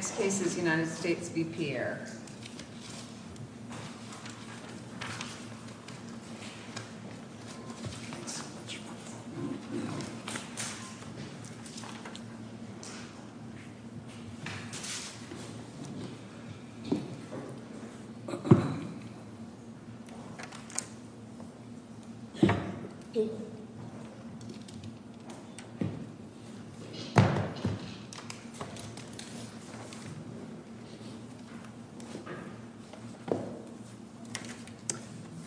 Next case is United States v. Pierre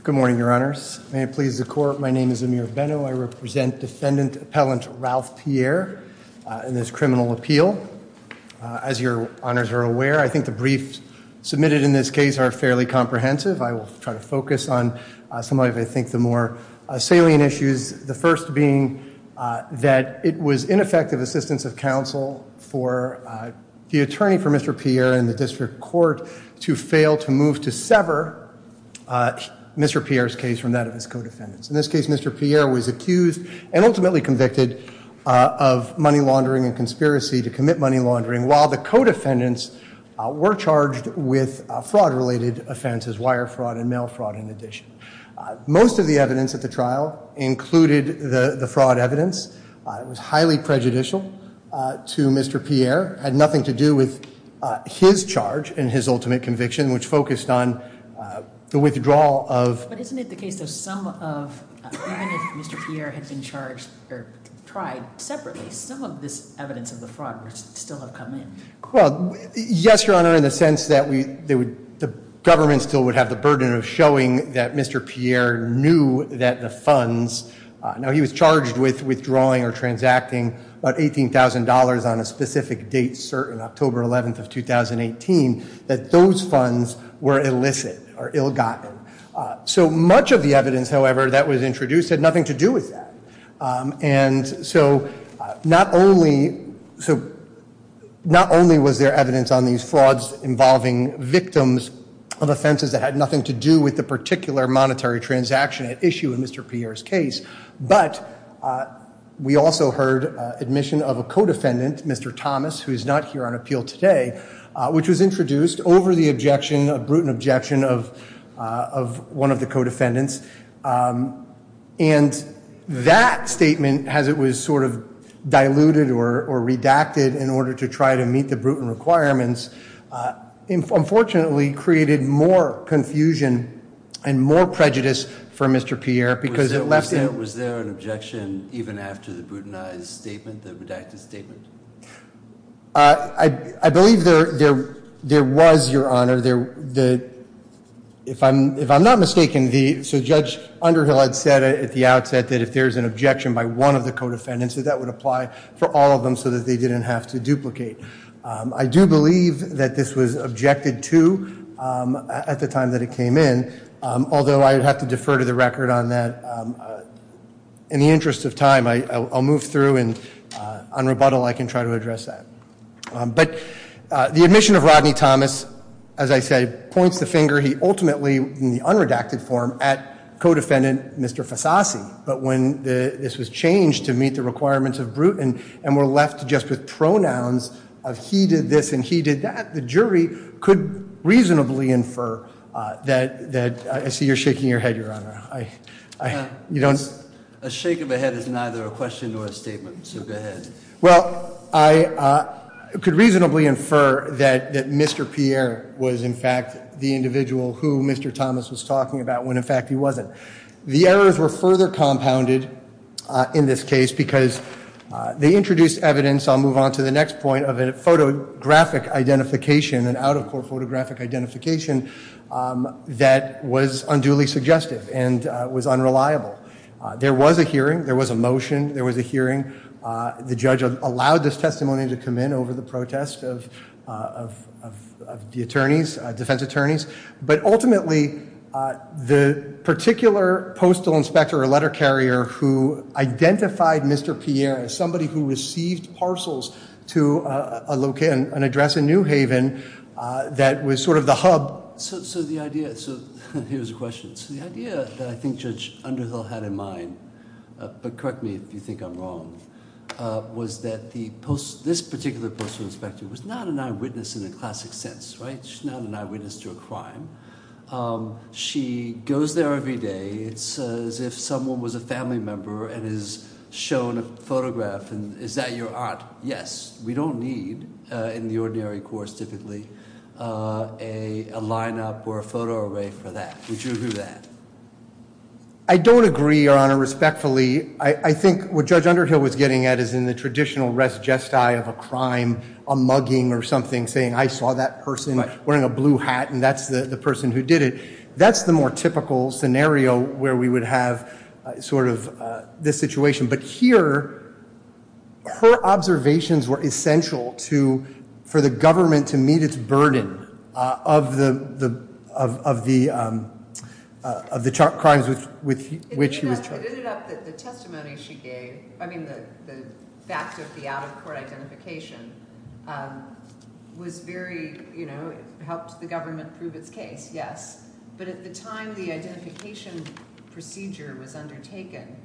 Good morning, your honors. May it please the court, my name is Amir Benno. I represent defendant appellant Ralph Pierre in this criminal appeal. As your honors are aware, I think the briefs submitted in this case are fairly comprehensive. I will try to focus on some of I think the more salient issues, the first being that it was ineffective assistance of counsel for the attorney for Mr. Pierre in the district court to fail to move to sever Mr. Pierre's case from that of his co-defendants. In this case, Mr. Pierre was accused and ultimately convicted of money laundering and conspiracy to commit money laundering while the co-defendants were charged with fraud related offenses, wire fraud and mail fraud in addition. Most of the evidence at the trial included the fraud evidence. It was highly prejudicial to Mr. Pierre. It had nothing to do with his charge and his ultimate conviction which focused on the withdrawal of... But isn't it the case that some of, even if Mr. Pierre had been charged or tried separately, some of this evidence of the fraud would still have come in? Well, yes, your honor, in the sense that the government still would have the burden of showing that Mr. Pierre knew that the funds, now he was charged with withdrawing or transacting about $18,000 on a specific date certain, October 11th of 2018, that those funds were illicit or ill gotten. So much of the evidence, however, that was introduced had nothing to do with that. And so not only was there evidence on these frauds involving victims of offenses that had nothing to do with the particular monetary transaction at issue in Mr. Pierre's case, but we also heard admission of a co-defendant, Mr. Thomas, who is not here on appeal today, which was introduced over the objection, a brutal objection of one of the co-defendants. And that statement, as it was sort of diluted or redacted in order to try to meet the Bruton requirements, unfortunately created more confusion and more prejudice for Mr. Pierre because it left him... Was there an objection even after the Brutonized statement, the redacted statement? I believe there was, your honor. If I'm not mistaken, Judge Underhill had said at the outset that if there's an objection by one of the co-defendants, that that would apply for all of them so that they didn't have to duplicate. I do believe that this was objected to at the time that it came in, although I would have to defer to the record on that. In the interest of time, I'll move through and on rebuttal, I can try to address that. But the admission of Rodney Thomas, as I said, points the finger. He ultimately, in the unredacted form, at co-defendant Mr. Fassassi. But when this was changed to meet the requirements of Bruton and we're left just with pronouns of he did this and he did that, the jury could reasonably infer that... I see you're shaking your head, your honor. A shake of a head is neither a question nor a statement, so go ahead. Well, I could reasonably infer that Mr. Pierre was, in fact, the individual who Mr. Thomas was talking about when, in fact, he wasn't. The errors were further compounded in this case because they introduced evidence, I'll move on to the next point, of a photographic identification, an out-of-court photographic identification that was unduly suggestive and was unreliable. There was a hearing, there was a motion, there was a hearing. The judge allowed this testimony to come in over the protest of the attorneys, defense attorneys. But ultimately, the particular postal inspector or letter carrier who identified Mr. Pierre as somebody who received parcels to a location, an address in New Haven, that was sort of the hub. So the idea, so here's the question, so the idea that I think Judge Underhill had in mind, but correct me if you think I'm wrong, was that the post, this particular postal inspector was not an eyewitness in the classic sense, right? She's not an eyewitness to a crime. She goes there every day, it's as if someone was a family member and is shown a photograph, and is that your aunt? Yes. We don't need, in the ordinary course typically, a lineup or a photo array for that. Would you agree with that? I don't agree, Your Honor, respectfully. I think what Judge Underhill was getting at is in the traditional res gestae of a crime, a mugging or something, saying I saw that person wearing a blue hat and that's the person who did it. That's the more typical scenario where we would have sort of this situation. But here, her observations were essential to, for the government to meet its burden of the, of the, of the crimes with which she was charged. It ended up that the testimony she gave, I mean the fact of the out-of-court identification, was very, you know, helped the government prove its case, yes. But at the time the identification procedure was undertaken,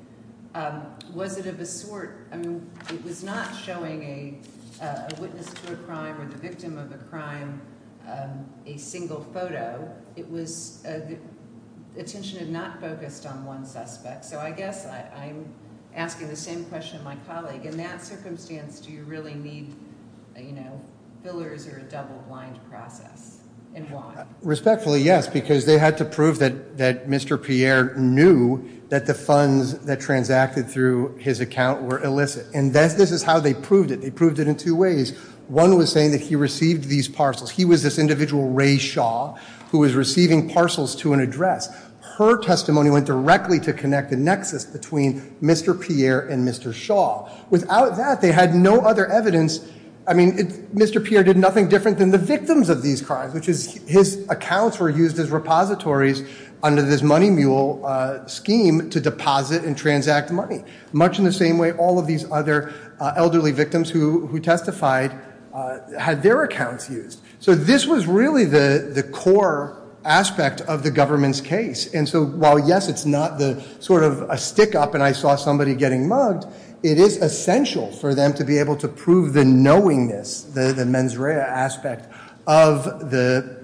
was it of a sort, I mean, it was not showing a witness to a crime or the victim of a crime a single photo. It was, attention had not focused on one suspect. So I guess I'm asking the same question to my colleague. In that circumstance, do you really need, you know, fillers or a double blind process? And why? Respectfully, yes, because they had to prove that, that Mr. Pierre knew that the funds that were transacted through his account were illicit. And this is how they proved it. They proved it in two ways. One was saying that he received these parcels. He was this individual, Ray Shaw, who was receiving parcels to an address. Her testimony went directly to connect the nexus between Mr. Pierre and Mr. Shaw. Without that, they had no other evidence. I mean, Mr. Pierre did nothing different than the victims of these crimes, which is his accounts were used as repositories under this money mule scheme to deposit and transact money. Much in the same way, all of these other elderly victims who testified had their accounts used. So this was really the core aspect of the government's case. And so while, yes, it's not the sort of a stick up and I saw somebody getting mugged, it is essential for them to be able to prove the knowingness, the mens rea aspect of the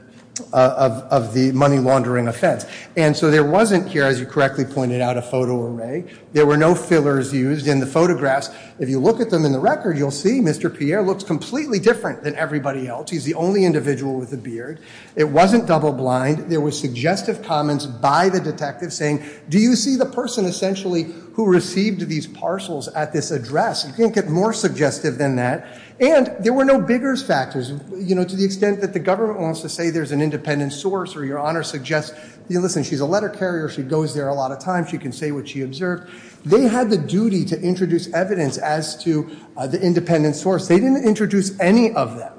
money laundering offense. And so there wasn't here, as you correctly pointed out, a photo array. There were no fillers used in the photographs. If you look at them in the record, you'll see Mr. Pierre looks completely different than everybody else. He's the only individual with a beard. It wasn't double blind. There was suggestive comments by the detective saying, do you see the person essentially who received these parcels at this address? You can't get more suggestive than that. And there were no bigger factors. To the extent that the government wants to say there's an independent source or your honor suggests, listen, she's a letter carrier. She goes there a lot of times. She can say what she observed. They had the duty to introduce evidence as to the independent source. They didn't introduce any of them.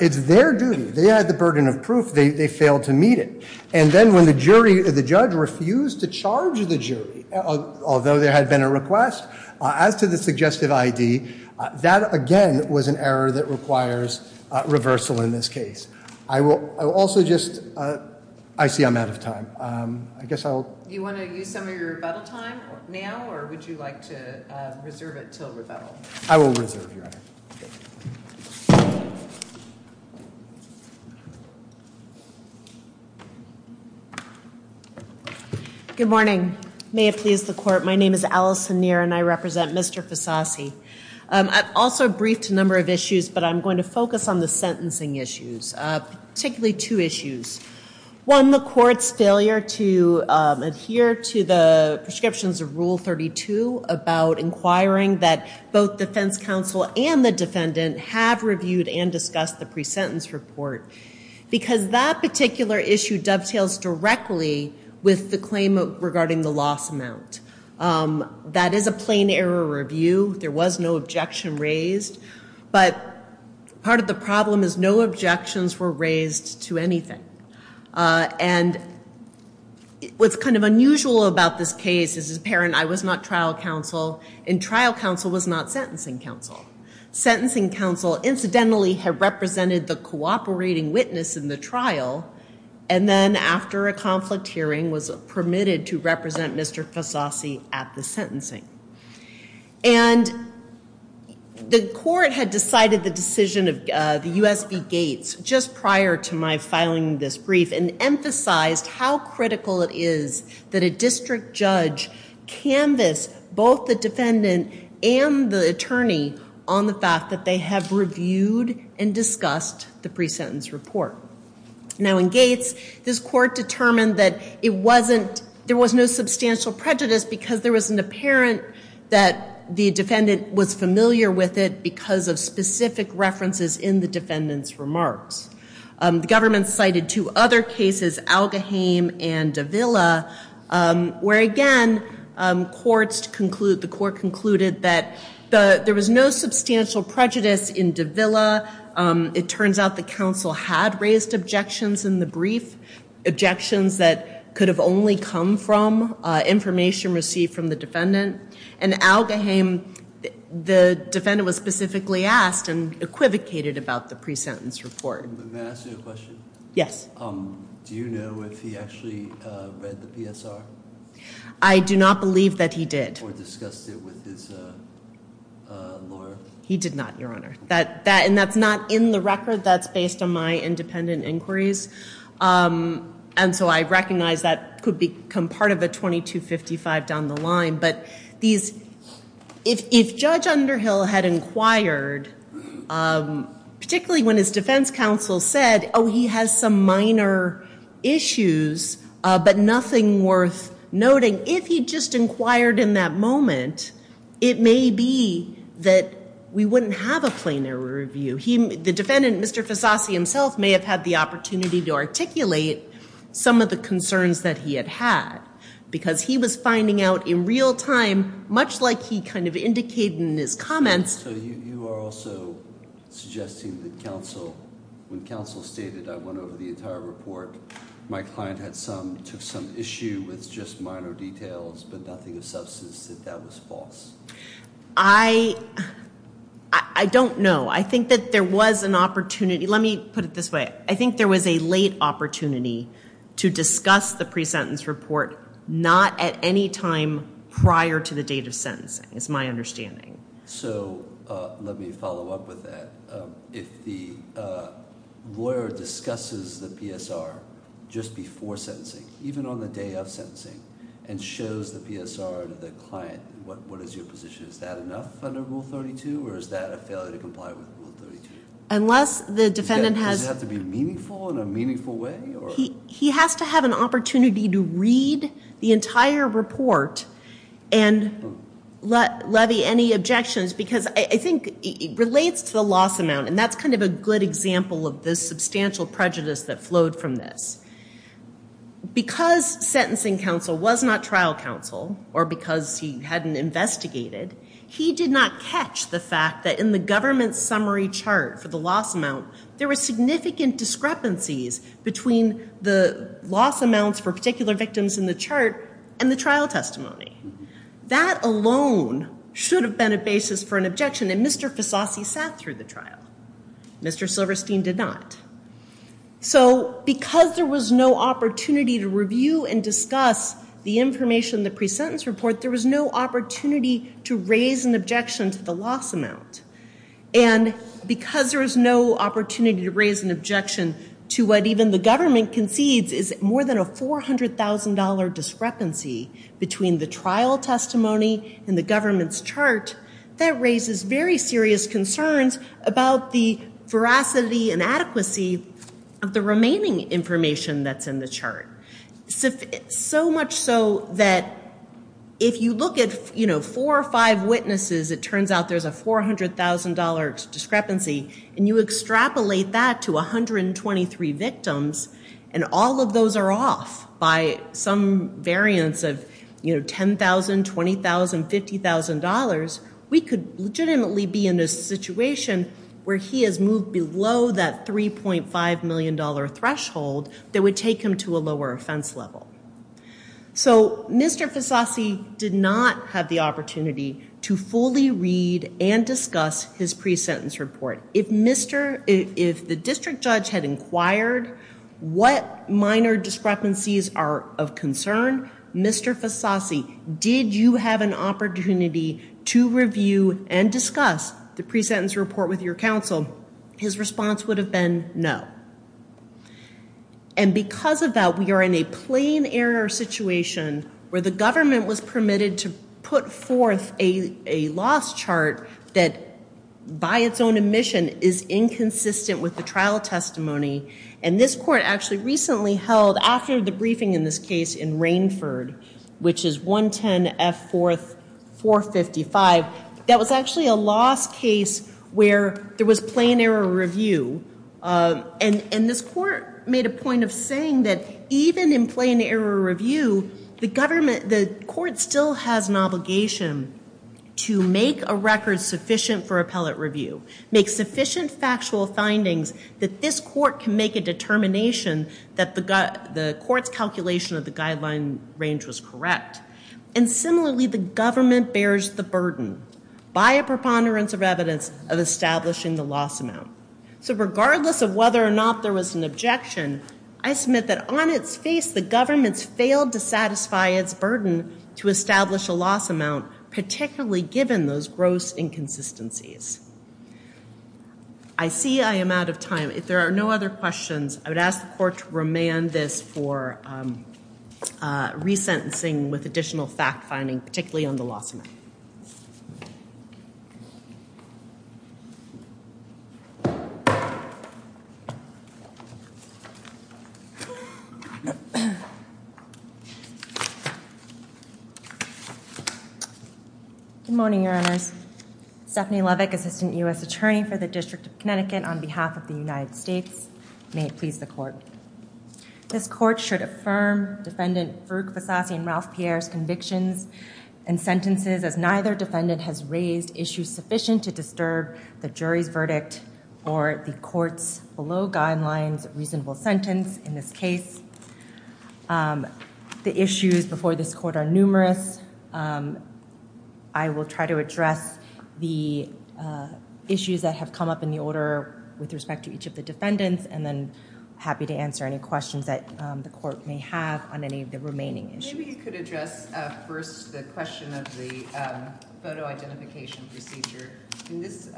It's their duty. They had the burden of proof. They failed to meet it. And then when the judge refused to charge the jury, although there had been a request, as to the suggestive ID, that again was an error that requires reversal in this case. I see I'm out of time. You want to use some of your rebuttal time now or would you like to reserve it till rebuttal? I will reserve your honor. Good morning. May it please the court. My name is Allison Neer and I represent Mr. Fasasi. I've also briefed a number of issues, but I'm going to focus on the sentencing issues, particularly two issues. One, the court's failure to adhere to the prescriptions of Rule 32 about inquiring that both defense counsel and the defendant have reviewed and discussed the pre-sentence report. Because that particular issue dovetails directly with the claim regarding the loss amount. That is a plain error review. There was no objection raised. But part of the problem is no objections were raised to anything. And what's kind of unusual about this case is it's apparent I was not trial counsel and trial counsel was not sentencing counsel. Sentencing counsel incidentally had represented the cooperating witness in the trial and then after a conflict hearing was permitted to represent Mr. Fasasi at the sentencing. And the court had decided the decision of the USB Gates just prior to my filing this brief and emphasized how critical it is that a district judge canvass both the defendant and the attorney on the fact that they have reviewed and discussed the pre-sentence report. Now in Gates, this court determined that there was no substantial prejudice because there was an apparent that the defendant was familiar with it because of specific references in the defendant's remarks. The government cited two other cases, Algaheim and Davila, where again the court concluded that there was no substantial prejudice in Davila. It turns out the counsel had raised objections in the brief, objections that could have only come from information received from the defendant. And Algaheim, the defendant was specifically asked and equivocated about the pre-sentence report. Can I ask you a question? Yes. Do you know if he actually read the PSR? I do not believe that he did. Or discussed it with his lawyer? He did not, Your Honor. And that's not in the record. That's based on my independent inquiries. And so I recognize that could become part of a 2255 down the line. But if Judge Underhill had inquired, particularly when his defense counsel said, oh, he has some minor issues but nothing worth noting, if he just inquired in that moment, it may be that we wouldn't have a plenary review. The defendant, Mr. Fasasi himself, may have had the opportunity to articulate some of the concerns that he had had. Because he was finding out in real time, much like he kind of indicated in his comments. So you are also suggesting that counsel, when counsel stated, I went over the entire report, my client had some, took some issue with just minor details but nothing of substance, that that was false? I don't know. I think that there was an opportunity. Let me put it this way. I think there was a late opportunity to discuss the pre-sentence report not at any time prior to the date of sentencing, is my understanding. So let me follow up with that. If the lawyer discusses the PSR just before sentencing, even on the day of sentencing, and shows the PSR to the client, what is your position? Is that enough under Rule 32? Or is that a failure to comply with Rule 32? Unless the defendant has... Does it have to be meaningful in a meaningful way? He has to have an opportunity to read the entire report and levy any objections. Because I think it relates to the loss amount. And that's kind of a good example of the substantial prejudice that flowed from this. Because sentencing counsel was not trial counsel, or because he hadn't investigated, he did not catch the fact that in the government summary chart for the loss amount, there were significant discrepancies between the loss amounts for particular victims in the chart and the trial testimony. That alone should have been a basis for an objection, and Mr. Fasasi sat through the trial. Mr. Silverstein did not. So, because there was no opportunity to review and discuss the information in the pre-sentence report, there was no opportunity to raise an objection to the loss amount. And because there was no opportunity to raise an objection to what even the government concedes is more than a $400,000 discrepancy between the trial testimony and the government's chart, that raises very serious concerns about the veracity and adequacy of the remaining information that's in the chart. So much so that if you look at four or five witnesses, it turns out there's a $400,000 discrepancy, and you extrapolate that to 123 victims, and all of those are off by some variance of $10,000, $20,000, $50,000. We could legitimately be in a situation where he has moved below that $3.5 million threshold that would take him to a lower offense level. So, Mr. Fasasi did not have the opportunity to fully read and discuss his pre-sentence report. If the district judge had inquired what minor discrepancies are of concern, Mr. Fasasi, did you have an opportunity to review and discuss the pre-sentence report with your counsel, his response would have been no. And because of that, we are in a plain error situation where the government was permitted to put forth a loss chart that, by its own admission, is inconsistent with the trial testimony. And this court actually recently held, after the briefing in this case in Rainford, which is 110 F. 4th, 455, that was actually a loss case where there was plain error review. And this court made a point of saying that even in plain error review, the court still has an obligation to make a record sufficient for appellate review, make sufficient factual findings that this court can make a determination that the court's calculation of the guideline range was correct. And similarly, the government bears the burden by a preponderance of evidence of establishing the loss amount. So, regardless of whether or not there was an objection, I submit that on its face, the government's failed to satisfy its burden to establish a loss amount, particularly given those gross inconsistencies. I see I am out of time. If there are no other questions, I would ask the court to remand this for resentencing with additional fact-finding, particularly on the loss amount. Good morning, Your Honors. Stephanie Levick, Assistant U.S. Attorney for the District of Connecticut, on behalf of the United States. May it please the court. This court should affirm Defendant Farouk Vassassi and Ralph Pierre's convictions and sentences as neither defendant has raised issues sufficient to disturb the jury's verdict or the court's below-guidelines reasonable sentence in this case. The issues before this court are numerous. I will try to address the issues that have come up in the order with respect to each of the defendants, and then happy to answer any questions that the court may have on any of the remaining issues. Maybe you could address first the question of the photo identification procedure. This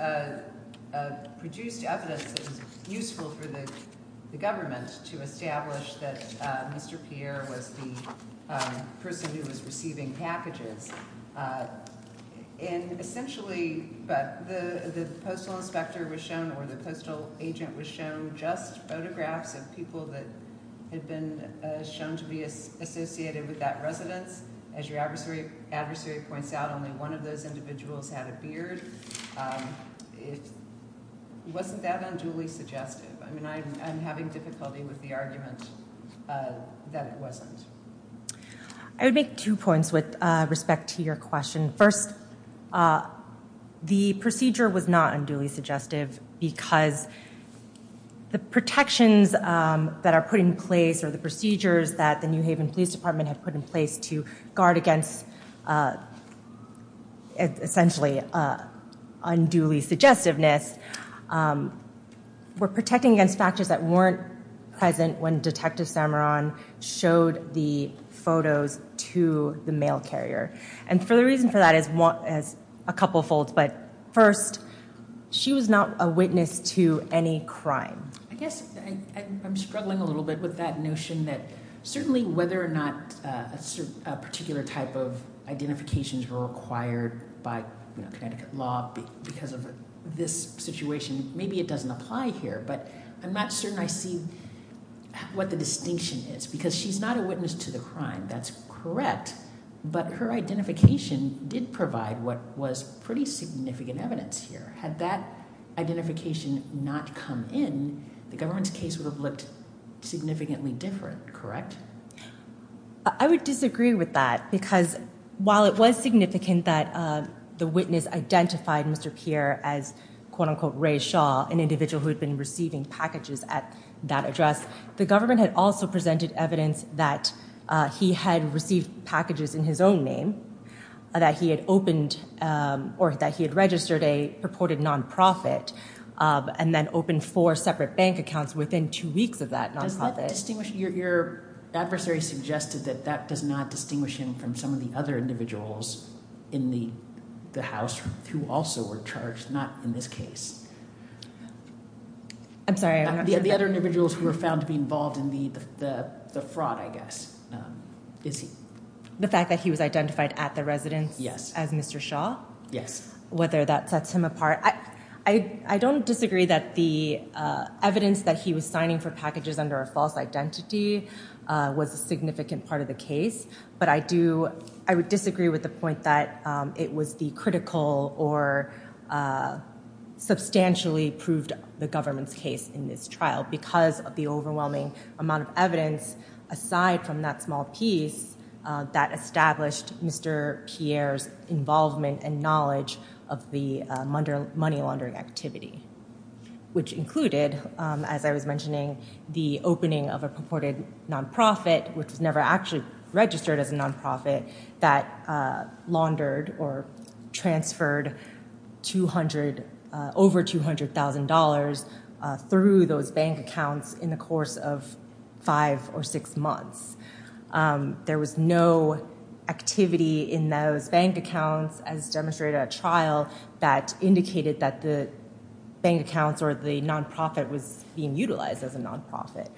produced evidence that was useful for the government to establish that Mr. Pierre was the person who was receiving packages. Essentially, the postal inspector was shown or the postal agent was shown just photographs of people that had been shown to be associated with that residence. As your adversary points out, only one of those individuals had a beard. It wasn't that unduly suggestive. I'm having difficulty with the argument that it wasn't. I would make two points with respect to your question. First, the procedure was not unduly suggestive because the protections that are put in place or the procedures that the New Haven Police Department had put in place to guard against essentially unduly suggestiveness were protecting against factors that weren't present when Detective Samaron showed the photos to the mail carrier. The reason for that is a couple of folds. First, she was not a witness to any crime. I guess I'm struggling a little bit with that notion that certainly whether or not a particular type of identifications were required by Connecticut law because of this situation. Maybe it doesn't apply here, but I'm not certain I see what the distinction is because she's not a witness to the crime. That's correct, but her identification did provide what was pretty significant evidence here. Had that identification not come in, the government's case would have looked significantly different, correct? I would disagree with that because while it was significant that the witness identified Mr. Pierre as quote unquote Ray Shaw, an individual who had been receiving packages at that address, the government had also presented evidence that he had received packages in his own name, that he had opened or that he had registered a purported non-profit and then opened four separate bank accounts within two weeks of that non-profit. Does that distinguish – your adversary suggested that that does not distinguish him from some of the other individuals in the house who also were charged, not in this case. I'm sorry. The other individuals who were found to be involved in the fraud, I guess. The fact that he was identified at the residence as Mr. Shaw? I don't disagree that the evidence that he was signing for packages under a false identity was a significant part of the case. But I do – I would disagree with the point that it was the critical or substantially proved the government's case in this trial because of the overwhelming amount of evidence aside from that small piece that established Mr. Pierre's involvement and knowledge of the money laundering activity. Which included, as I was mentioning, the opening of a purported non-profit which was never actually registered as a non-profit that laundered or transferred over $200,000 through those bank accounts in the course of five or six months. There was no activity in those bank accounts as demonstrated at trial that indicated that the bank accounts or the non-profit was being utilized as a non-profit.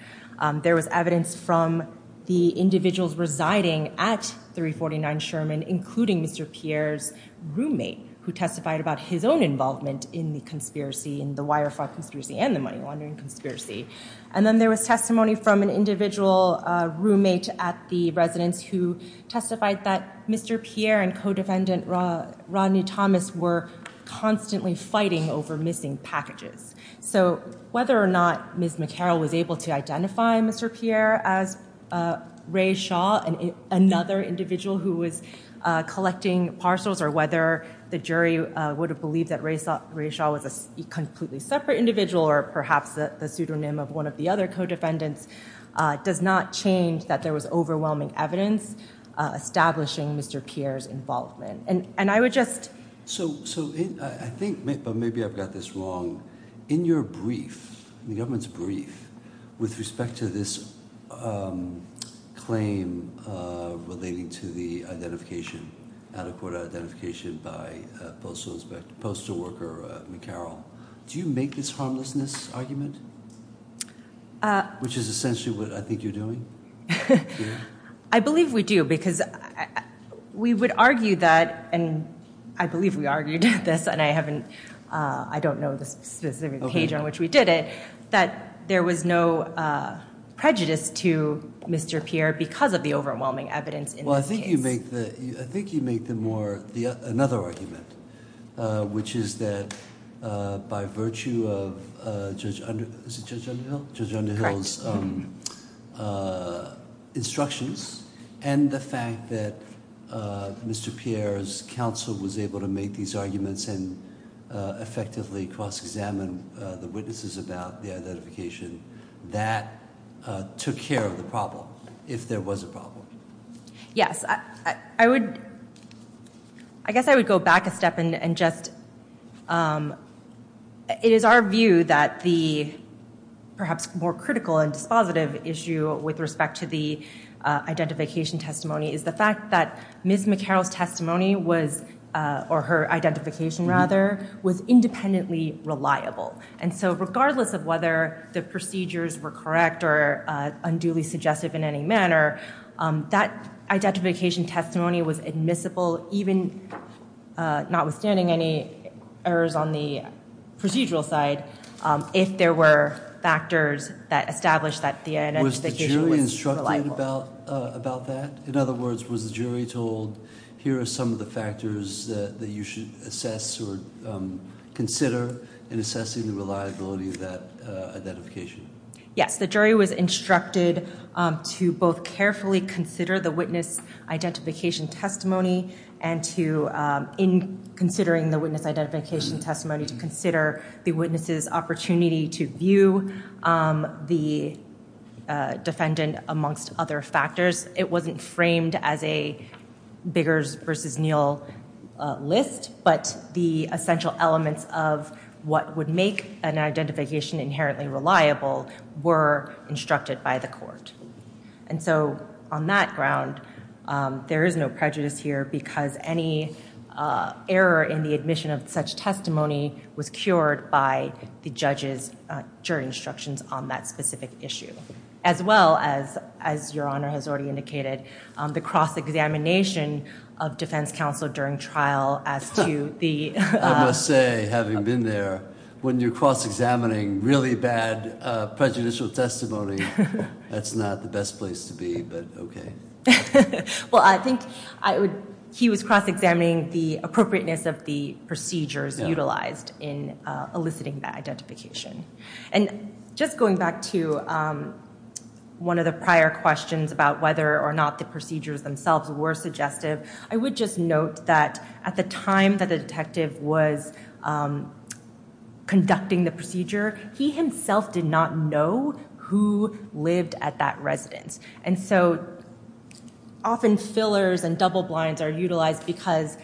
There was evidence from the individuals residing at 349 Sherman including Mr. Pierre's roommate who testified about his own involvement in the wire fraud conspiracy and the money laundering conspiracy. And then there was testimony from an individual roommate at the residence who testified that Mr. Pierre and co-defendant Rodney Thomas were constantly fighting over missing packages. So whether or not Ms. McCarroll was able to identify Mr. Pierre as Ray Shaw, another individual who was collecting parcels, or whether the jury would have believed that Ray Shaw was a completely separate individual or perhaps the pseudonym of one of the other co-defendants, does not change that there was overwhelming evidence establishing Mr. Pierre's involvement. So I think, but maybe I've got this wrong, in your brief, the government's brief, with respect to this claim relating to the identification, out-of-court identification by postal inspector, postal worker McCarroll, do you make this harmlessness argument? Which is essentially what I think you're doing? I believe we do because we would argue that, and I believe we argued this and I haven't, I don't know the specific page on which we did it, that there was no prejudice to Mr. Pierre because of the overwhelming evidence in this case. I think you make the more, another argument, which is that by virtue of Judge Underhill's instructions and the fact that Mr. Pierre's counsel was able to make these arguments and effectively cross-examine the witnesses about the identification, that took care of the problem, if there was a problem. Yes, I would, I guess I would go back a step and just, it is our view that the perhaps more critical and dispositive issue with respect to the identification testimony is the fact that Ms. McCarroll's testimony was, or her identification rather, was independently reliable. And so regardless of whether the procedures were correct or unduly suggestive in any manner, that identification testimony was admissible, even notwithstanding any errors on the procedural side, if there were factors that established that the identification was reliable. In other words, was the jury told, here are some of the factors that you should assess or consider in assessing the reliability of that identification? Yes, the jury was instructed to both carefully consider the witness identification testimony and to, in considering the witness identification testimony, to consider the witness's opportunity to view the defendant amongst other factors. It wasn't framed as a Biggers versus Neal list, but the essential elements of what would make an identification inherently reliable were instructed by the court. And so on that ground, there is no prejudice here because any error in the admission of such testimony was cured by the judge's jury instructions on that specific issue. As well as, as your Honor has already indicated, the cross-examination of defense counsel during trial as to the- It's not the best place to be, but okay. Well, I think he was cross-examining the appropriateness of the procedures utilized in eliciting that identification. And just going back to one of the prior questions about whether or not the procedures themselves were suggestive, I would just note that at the time that the detective was conducting the procedure, he himself did not know who lived at that residence. And so often fillers and double blinds are utilized because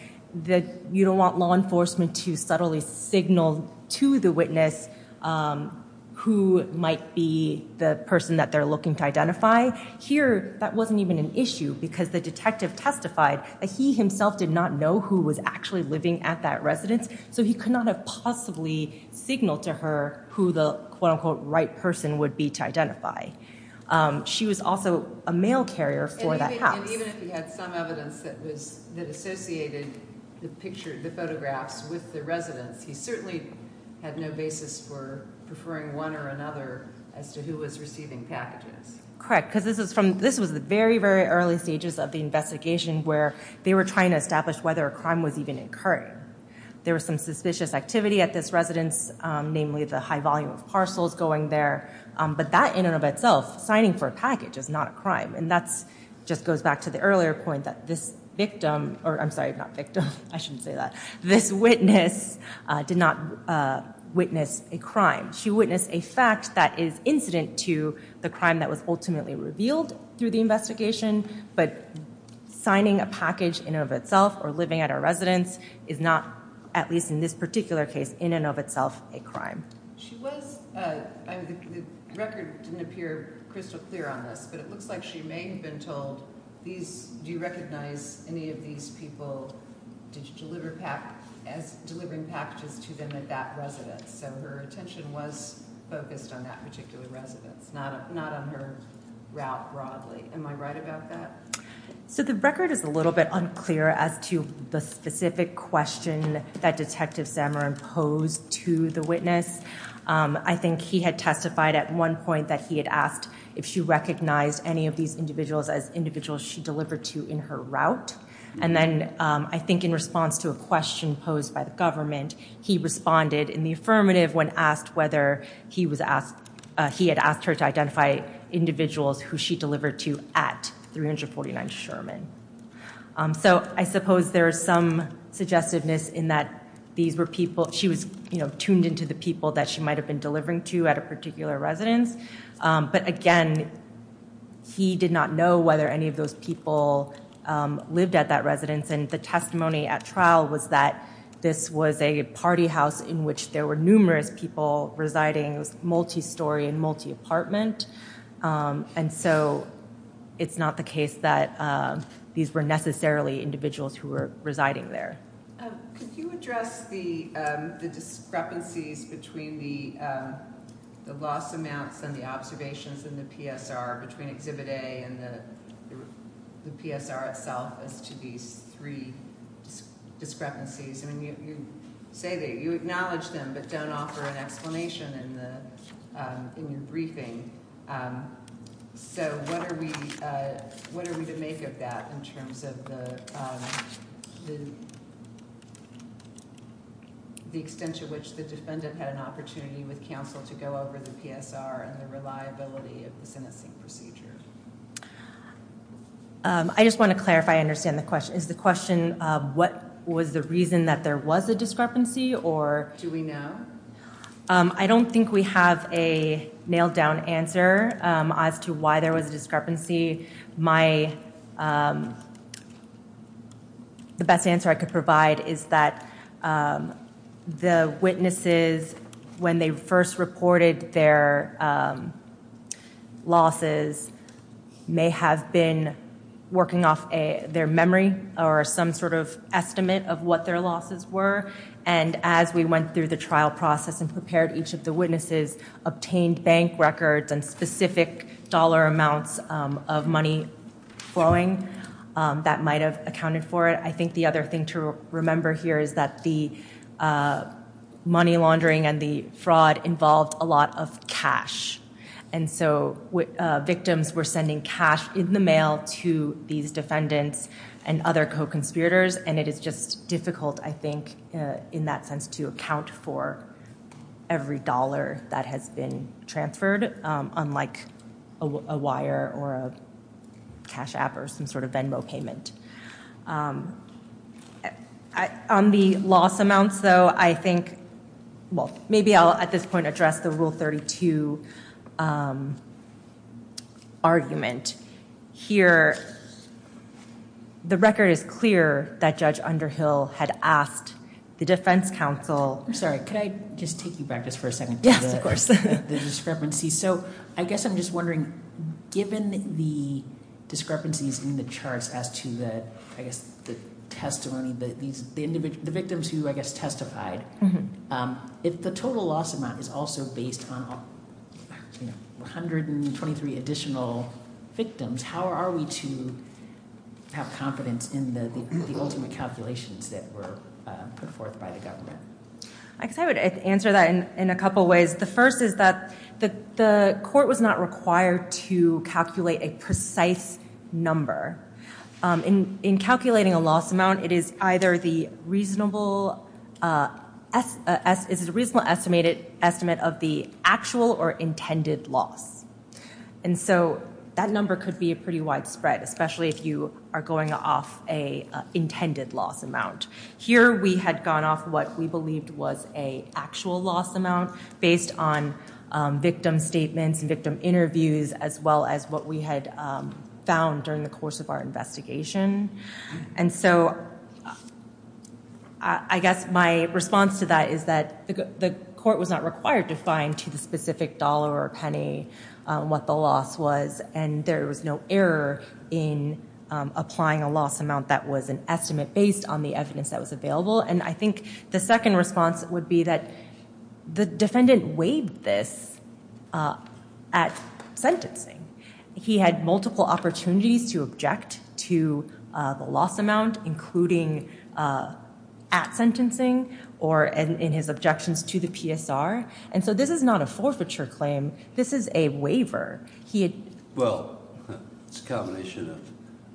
you don't want law enforcement to subtly signal to the witness who might be the person that they're looking to identify. Here, that wasn't even an issue because the detective testified that he himself did not know who was actually living at that residence, so he could not have possibly signaled to her who the quote-unquote right person would be to identify. She was also a mail carrier for that house. And even if he had some evidence that associated the photographs with the residence, he certainly had no basis for preferring one or another as to who was receiving packages. Correct, because this was the very, very early stages of the investigation where they were trying to establish whether a crime was even occurring. There was some suspicious activity at this residence, namely the high volume of parcels going there, but that in and of itself, signing for a package, is not a crime. And that just goes back to the earlier point that this victim, or I'm sorry, not victim, I shouldn't say that, this witness did not witness a crime. She witnessed a fact that is incident to the crime that was ultimately revealed through the investigation, but signing a package in and of itself or living at a residence is not, at least in this particular case, in and of itself, a crime. She was, the record didn't appear crystal clear on this, but it looks like she may have been told, do you recognize any of these people delivering packages to them at that residence? So her attention was focused on that particular residence, not on her route broadly. Am I right about that? So the record is a little bit unclear as to the specific question that Detective Zamorin posed to the witness. I think he had testified at one point that he had asked if she recognized any of these individuals as individuals she delivered to in her route. And then I think in response to a question posed by the government, he responded in the affirmative when asked whether he had asked her to identify individuals who she delivered to at 349 Sherman. So I suppose there is some suggestiveness in that these were people, she was tuned into the people that she might have been delivering to at a particular residence. But again, he did not know whether any of those people lived at that residence. And the testimony at trial was that this was a party house in which there were numerous people residing. It was multi-story and multi-apartment, and so it's not the case that these were necessarily individuals who were residing there. Could you address the discrepancies between the loss amounts and the observations in the PSR between Exhibit A and the PSR itself as to these three discrepancies? You acknowledge them but don't offer an explanation in your briefing. So what are we to make of that in terms of the extent to which the defendant had an opportunity with counsel to go over the PSR and the reliability of the sentencing procedure? I just want to clarify and understand the question. Is the question, what was the reason that there was a discrepancy? Do we know? I don't think we have a nailed down answer as to why there was a discrepancy. The best answer I could provide is that the witnesses, when they first reported their losses, may have been working off their memory or some sort of estimate of what their losses were. And as we went through the trial process and prepared each of the witnesses, obtained bank records and specific dollar amounts of money flowing that might have accounted for it. I think the other thing to remember here is that the money laundering and the fraud involved a lot of cash. And so victims were sending cash in the mail to these defendants and other co-conspirators. And it is just difficult, I think, in that sense to account for every dollar that has been transferred, unlike a wire or a cash app or some sort of Venmo payment. On the loss amounts, though, I think... well, maybe I'll at this point address the Rule 32 argument here. The record is clear that Judge Underhill had asked the defense counsel... I'm sorry. Could I just take you back just for a second? Yes, of course. So I guess I'm just wondering, given the discrepancies in the charts as to the testimony, the victims who, I guess, testified, if the total loss amount is also based on 123 additional victims, how are we to have confidence in the ultimate calculations that were put forth by the government? I guess I would answer that in a couple ways. The first is that the court was not required to calculate a precise number. In calculating a loss amount, it is either the reasonable estimate of the actual or intended loss. And so that number could be pretty widespread, especially if you are going off an intended loss amount. Here we had gone off what we believed was an actual loss amount based on victim statements and victim interviews, as well as what we had found during the course of our investigation. And so I guess my response to that is that the court was not required to find to the specific dollar or penny what the loss was. And there was no error in applying a loss amount that was an estimate based on the evidence that was available. And I think the second response would be that the defendant waived this at sentencing. He had multiple opportunities to object to the loss amount, including at sentencing or in his objections to the PSR. And so this is not a forfeiture claim. This is a waiver. Well, it's a combination of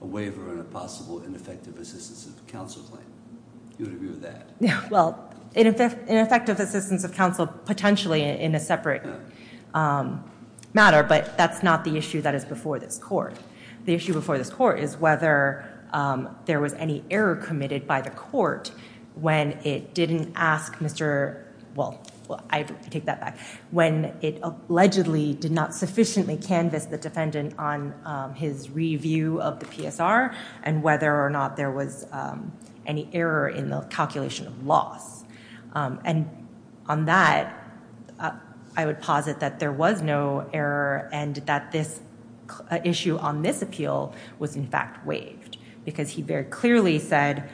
a waiver and a possible ineffective assistance of counsel claim. Do you agree with that? Well, ineffective assistance of counsel potentially in a separate matter, but that's not the issue that is before this court. The issue before this court is whether there was any error committed by the court when it didn't ask Mr. Well, I take that back. When it allegedly did not sufficiently canvass the defendant on his review of the PSR and whether or not there was any error in the calculation of loss. And on that, I would posit that there was no error and that this issue on this appeal was in fact waived because he very clearly said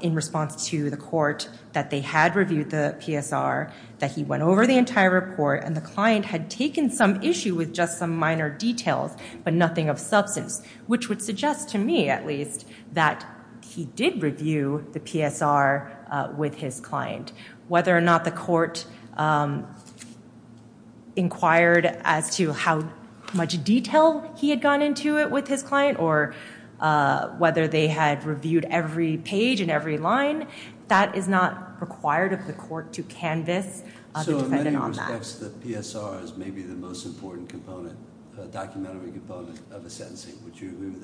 in response to the court that they had reviewed the PSR, that he went over the entire report and the client had taken some issue with just some minor details, but nothing of substance, which would suggest to me at least that he did review the PSR with his client. Whether or not the court inquired as to how much detail he had gone into it with his client or whether they had reviewed every page and every line, that is not required of the court to canvass the defendant on that. So in many respects, the PSR is maybe the most important component, document of a component of a sentencing. Would you agree with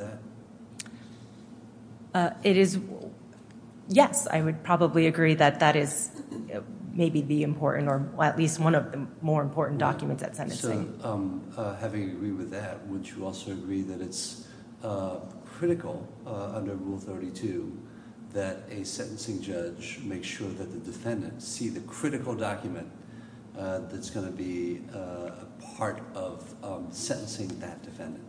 that? It is, yes, I would probably agree that that is maybe the important or at least one of the more important documents at sentencing. So having agreed with that, would you also agree that it's critical under Rule 32 that a sentencing judge make sure that the defendant see the critical document that's going to be a part of sentencing that defendant?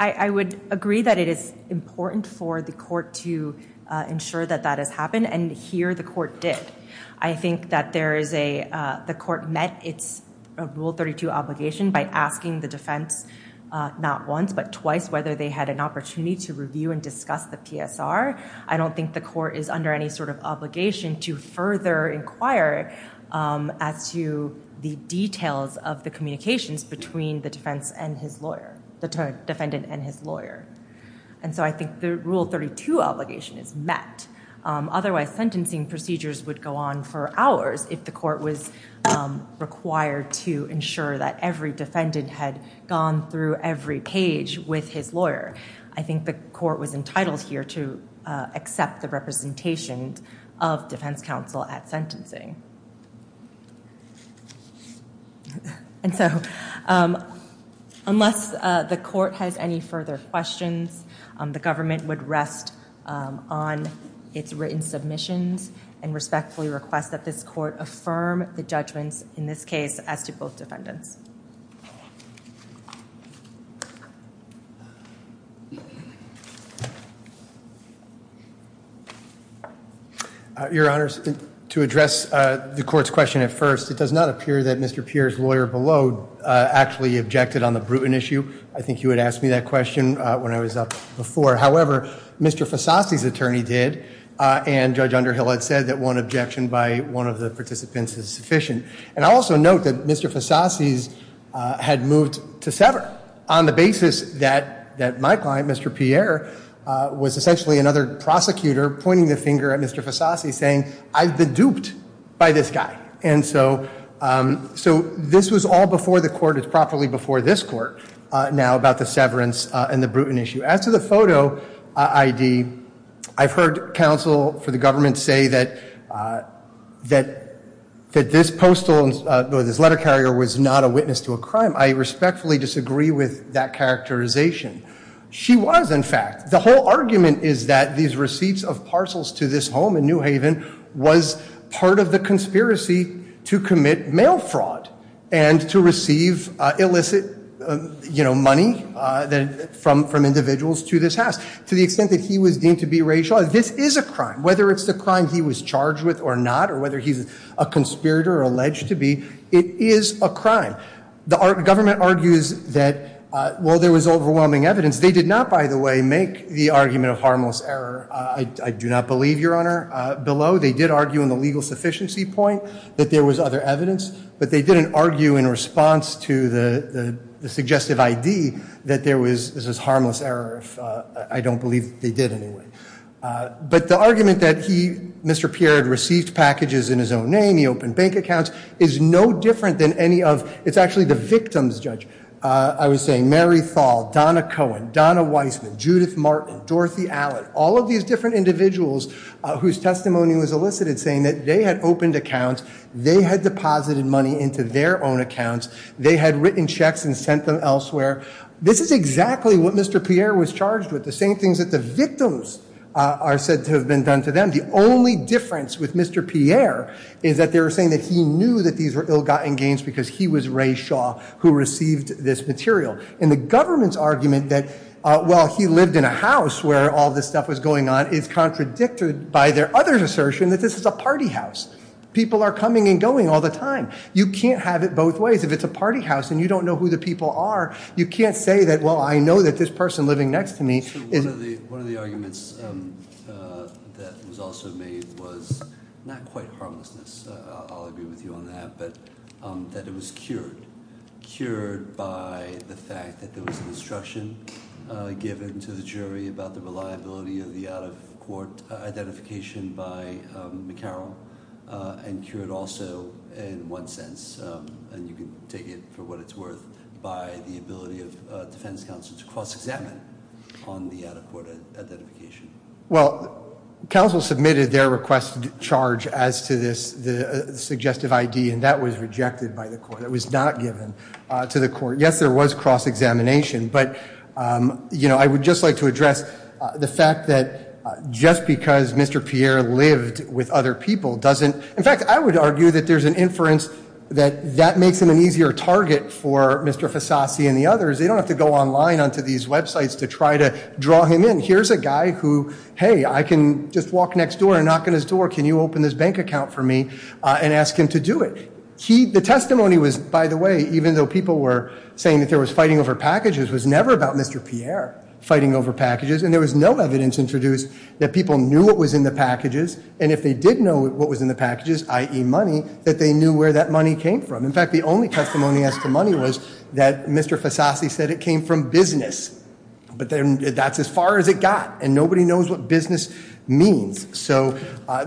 I would agree that it is important for the court to ensure that that has happened, and here the court did. I think that the court met its Rule 32 obligation by asking the defense not once but twice whether they had an opportunity to review and discuss the PSR. I don't think the court is under any sort of obligation to further inquire as to the details of the communications between the defense and his lawyer, the defendant and his lawyer. And so I think the Rule 32 obligation is met. Otherwise, sentencing procedures would go on for hours if the court was required to ensure that every defendant had gone through every page with his lawyer. I think the court was entitled here to accept the representation of defense counsel at sentencing. And so unless the court has any further questions, the government would rest on its written submissions and respectfully request that this court affirm the judgments in this case as to both defendants. Your Honor, to address the court's question at first, it does not appear that Mr. Peer's lawyer below actually objected on the Bruton issue. I think you had asked me that question when I was up before. However, Mr. Fasasi's attorney did, and Judge Underhill had said that one objection by one of the participants is sufficient. And I also note that Mr. Fasasi's had moved to sever on the basis that my client, Mr. Peer, was essentially another prosecutor pointing the finger at Mr. Fasasi saying, I've been duped by this guy. And so this was all before the court. It's properly before this court now about the severance and the Bruton issue. As to the photo ID, I've heard counsel for the government say that this letter carrier was not a witness to a crime. I respectfully disagree with that characterization. She was, in fact. The whole argument is that these receipts of parcels to this home in New Haven was part of the conspiracy to commit mail fraud and to receive illicit money from individuals to this house. To the extent that he was deemed to be racial, this is a crime. Whether it's the crime he was charged with or not, or whether he's a conspirator or alleged to be, it is a crime. The government argues that while there was overwhelming evidence, they did not, by the way, make the argument of harmless error. I do not believe, Your Honor, below. They did argue in the legal sufficiency point that there was other evidence. But they didn't argue in response to the suggestive ID that there was this harmless error. I don't believe they did anyway. But the argument that he, Mr. Pierre, had received packages in his own name, he opened bank accounts, is no different than any of. It's actually the victims, Judge. I was saying Mary Thal, Donna Cohen, Donna Weissman, Judith Martin, Dorothy Allen. All of these different individuals whose testimony was elicited saying that they had opened accounts, they had deposited money into their own accounts, they had written checks and sent them elsewhere. This is exactly what Mr. Pierre was charged with. The same things that the victims are said to have been done to them. The only difference with Mr. Pierre is that they were saying that he knew that these were ill-gotten gains because he was Ray Shaw who received this material. And the government's argument that, well, he lived in a house where all this stuff was going on, is contradicted by their other assertion that this is a party house. People are coming and going all the time. You can't have it both ways. If it's a party house and you don't know who the people are, you can't say that, well, I know that this person living next to me is- One of the arguments that was also made was not quite harmlessness. I'll agree with you on that. But that it was cured. Cured by the fact that there was an instruction given to the jury about the reliability of the out-of-court identification by McCarroll. And cured also in one sense, and you can take it for what it's worth, by the ability of defense counsel to cross-examine on the out-of-court identification. Well, counsel submitted their request to charge as to this suggestive ID, and that was rejected by the court. It was not given to the court. Yes, there was cross-examination. But, you know, I would just like to address the fact that just because Mr. Pierre lived with other people doesn't- In fact, I would argue that there's an inference that that makes him an easier target for Mr. Fasasi and the others. They don't have to go online onto these websites to try to draw him in. Here's a guy who, hey, I can just walk next door and knock on his door. Can you open this bank account for me? And ask him to do it. The testimony was, by the way, even though people were saying that there was fighting over packages, was never about Mr. Pierre fighting over packages. And there was no evidence introduced that people knew what was in the packages. And if they did know what was in the packages, i.e. money, that they knew where that money came from. In fact, the only testimony as to money was that Mr. Fasasi said it came from business. But that's as far as it got. And nobody knows what business means. So,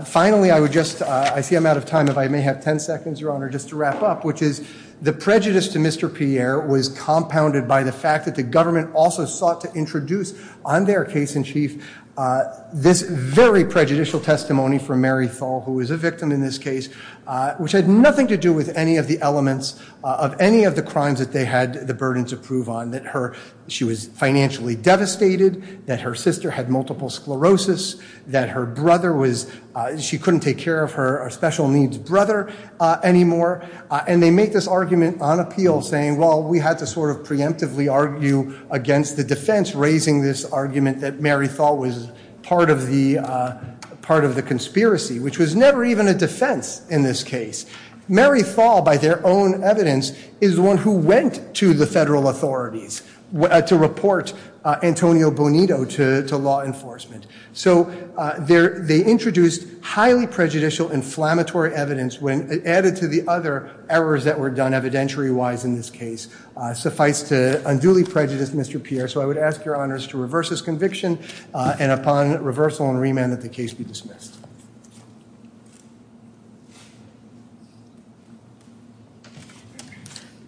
finally, I would just- I see I'm out of time. If I may have ten seconds, Your Honor, just to wrap up. Which is, the prejudice to Mr. Pierre was compounded by the fact that the government also sought to introduce, on their case in chief, this very prejudicial testimony from Mary Tholl, who was a victim in this case. Which had nothing to do with any of the elements of any of the crimes that they had the burden to prove on. That her- she was financially devastated. That her sister had multiple sclerosis. That her brother was- she couldn't take care of her special needs brother anymore. And they make this argument on appeal, saying, well, we had to sort of preemptively argue against the defense. Raising this argument that Mary Tholl was part of the conspiracy. Which was never even a defense in this case. Mary Tholl, by their own evidence, is the one who went to the federal authorities to report Antonio Bonito to law enforcement. So, they introduced highly prejudicial, inflammatory evidence when added to the other errors that were done evidentiary-wise in this case. Suffice to unduly prejudice Mr. Pierre. So, I would ask your honors to reverse this conviction. And upon reversal and remand that the case be dismissed.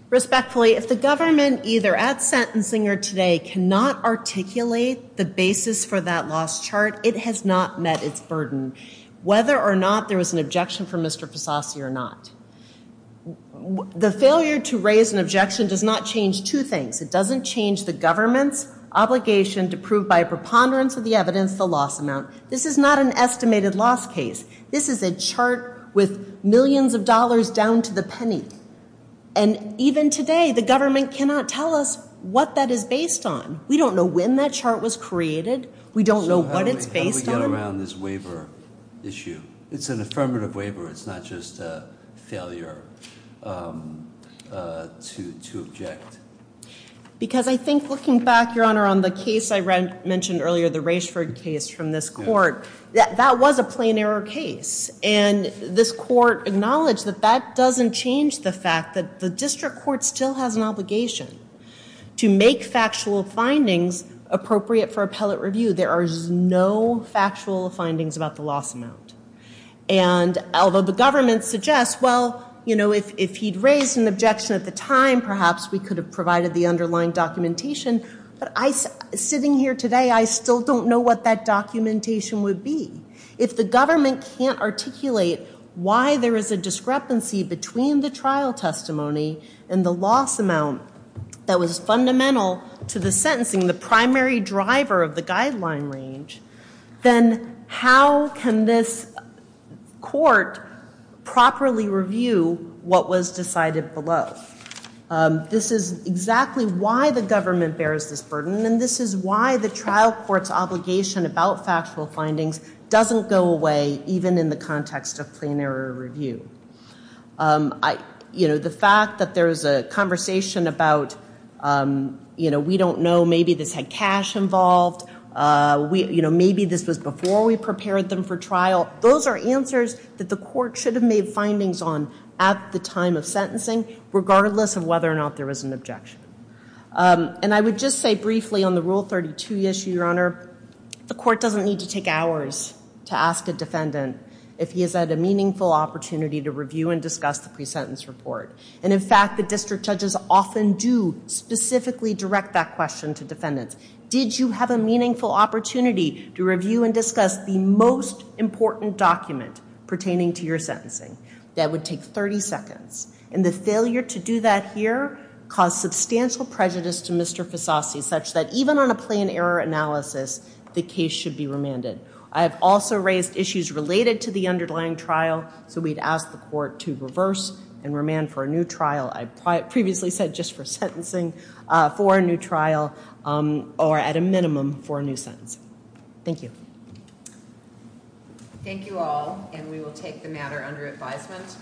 Respectfully, if the government, either at sentencing or today, cannot articulate the basis for that loss chart. It has not met its burden. Whether or not there was an objection from Mr. Fasasi or not. The failure to raise an objection does not change two things. It doesn't change the government's obligation to prove by a preponderance of the evidence the loss amount. This is not an estimated loss case. This is a chart with millions of dollars down to the penny. And even today, the government cannot tell us what that is based on. We don't know when that chart was created. We don't know what it's based on. How do we get around this waiver issue? It's an affirmative waiver. It's not just a failure to object. Because I think looking back, your honor, on the case I mentioned earlier, the Raishford case from this court. That was a plain error case. And this court acknowledged that that doesn't change the fact that the district court still has an obligation to make factual findings appropriate for appellate review. There are no factual findings about the loss amount. And although the government suggests, well, you know, if he'd raised an objection at the time, perhaps we could have provided the underlying documentation. But sitting here today, I still don't know what that documentation would be. If the government can't articulate why there is a discrepancy between the trial testimony and the loss amount that was fundamental to the sentencing, the primary driver of the guideline range, then how can this court properly review what was decided below? This is exactly why the government bears this burden. And this is why the trial court's obligation about factual findings doesn't go away, even in the context of plain error review. You know, the fact that there is a conversation about, you know, we don't know, maybe this had cash involved. You know, maybe this was before we prepared them for trial. Those are answers that the court should have made findings on at the time of sentencing, regardless of whether or not there was an objection. And I would just say briefly on the Rule 32 issue, your honor, the court doesn't need to take hours to ask a defendant if he has had a meaningful opportunity to review and discuss the pre-sentence report. And in fact, the district judges often do specifically direct that question to defendants. Did you have a meaningful opportunity to review and discuss the most important document pertaining to your sentencing? That would take 30 seconds. And the failure to do that here caused substantial prejudice to Mr. Fasasi, such that even on a plain error analysis, the case should be remanded. I have also raised issues related to the underlying trial, so we'd ask the court to reverse and remand for a new trial. I previously said just for sentencing, for a new trial, or at a minimum for a new sentence. Thank you. Thank you all, and we will take the matter under advisement.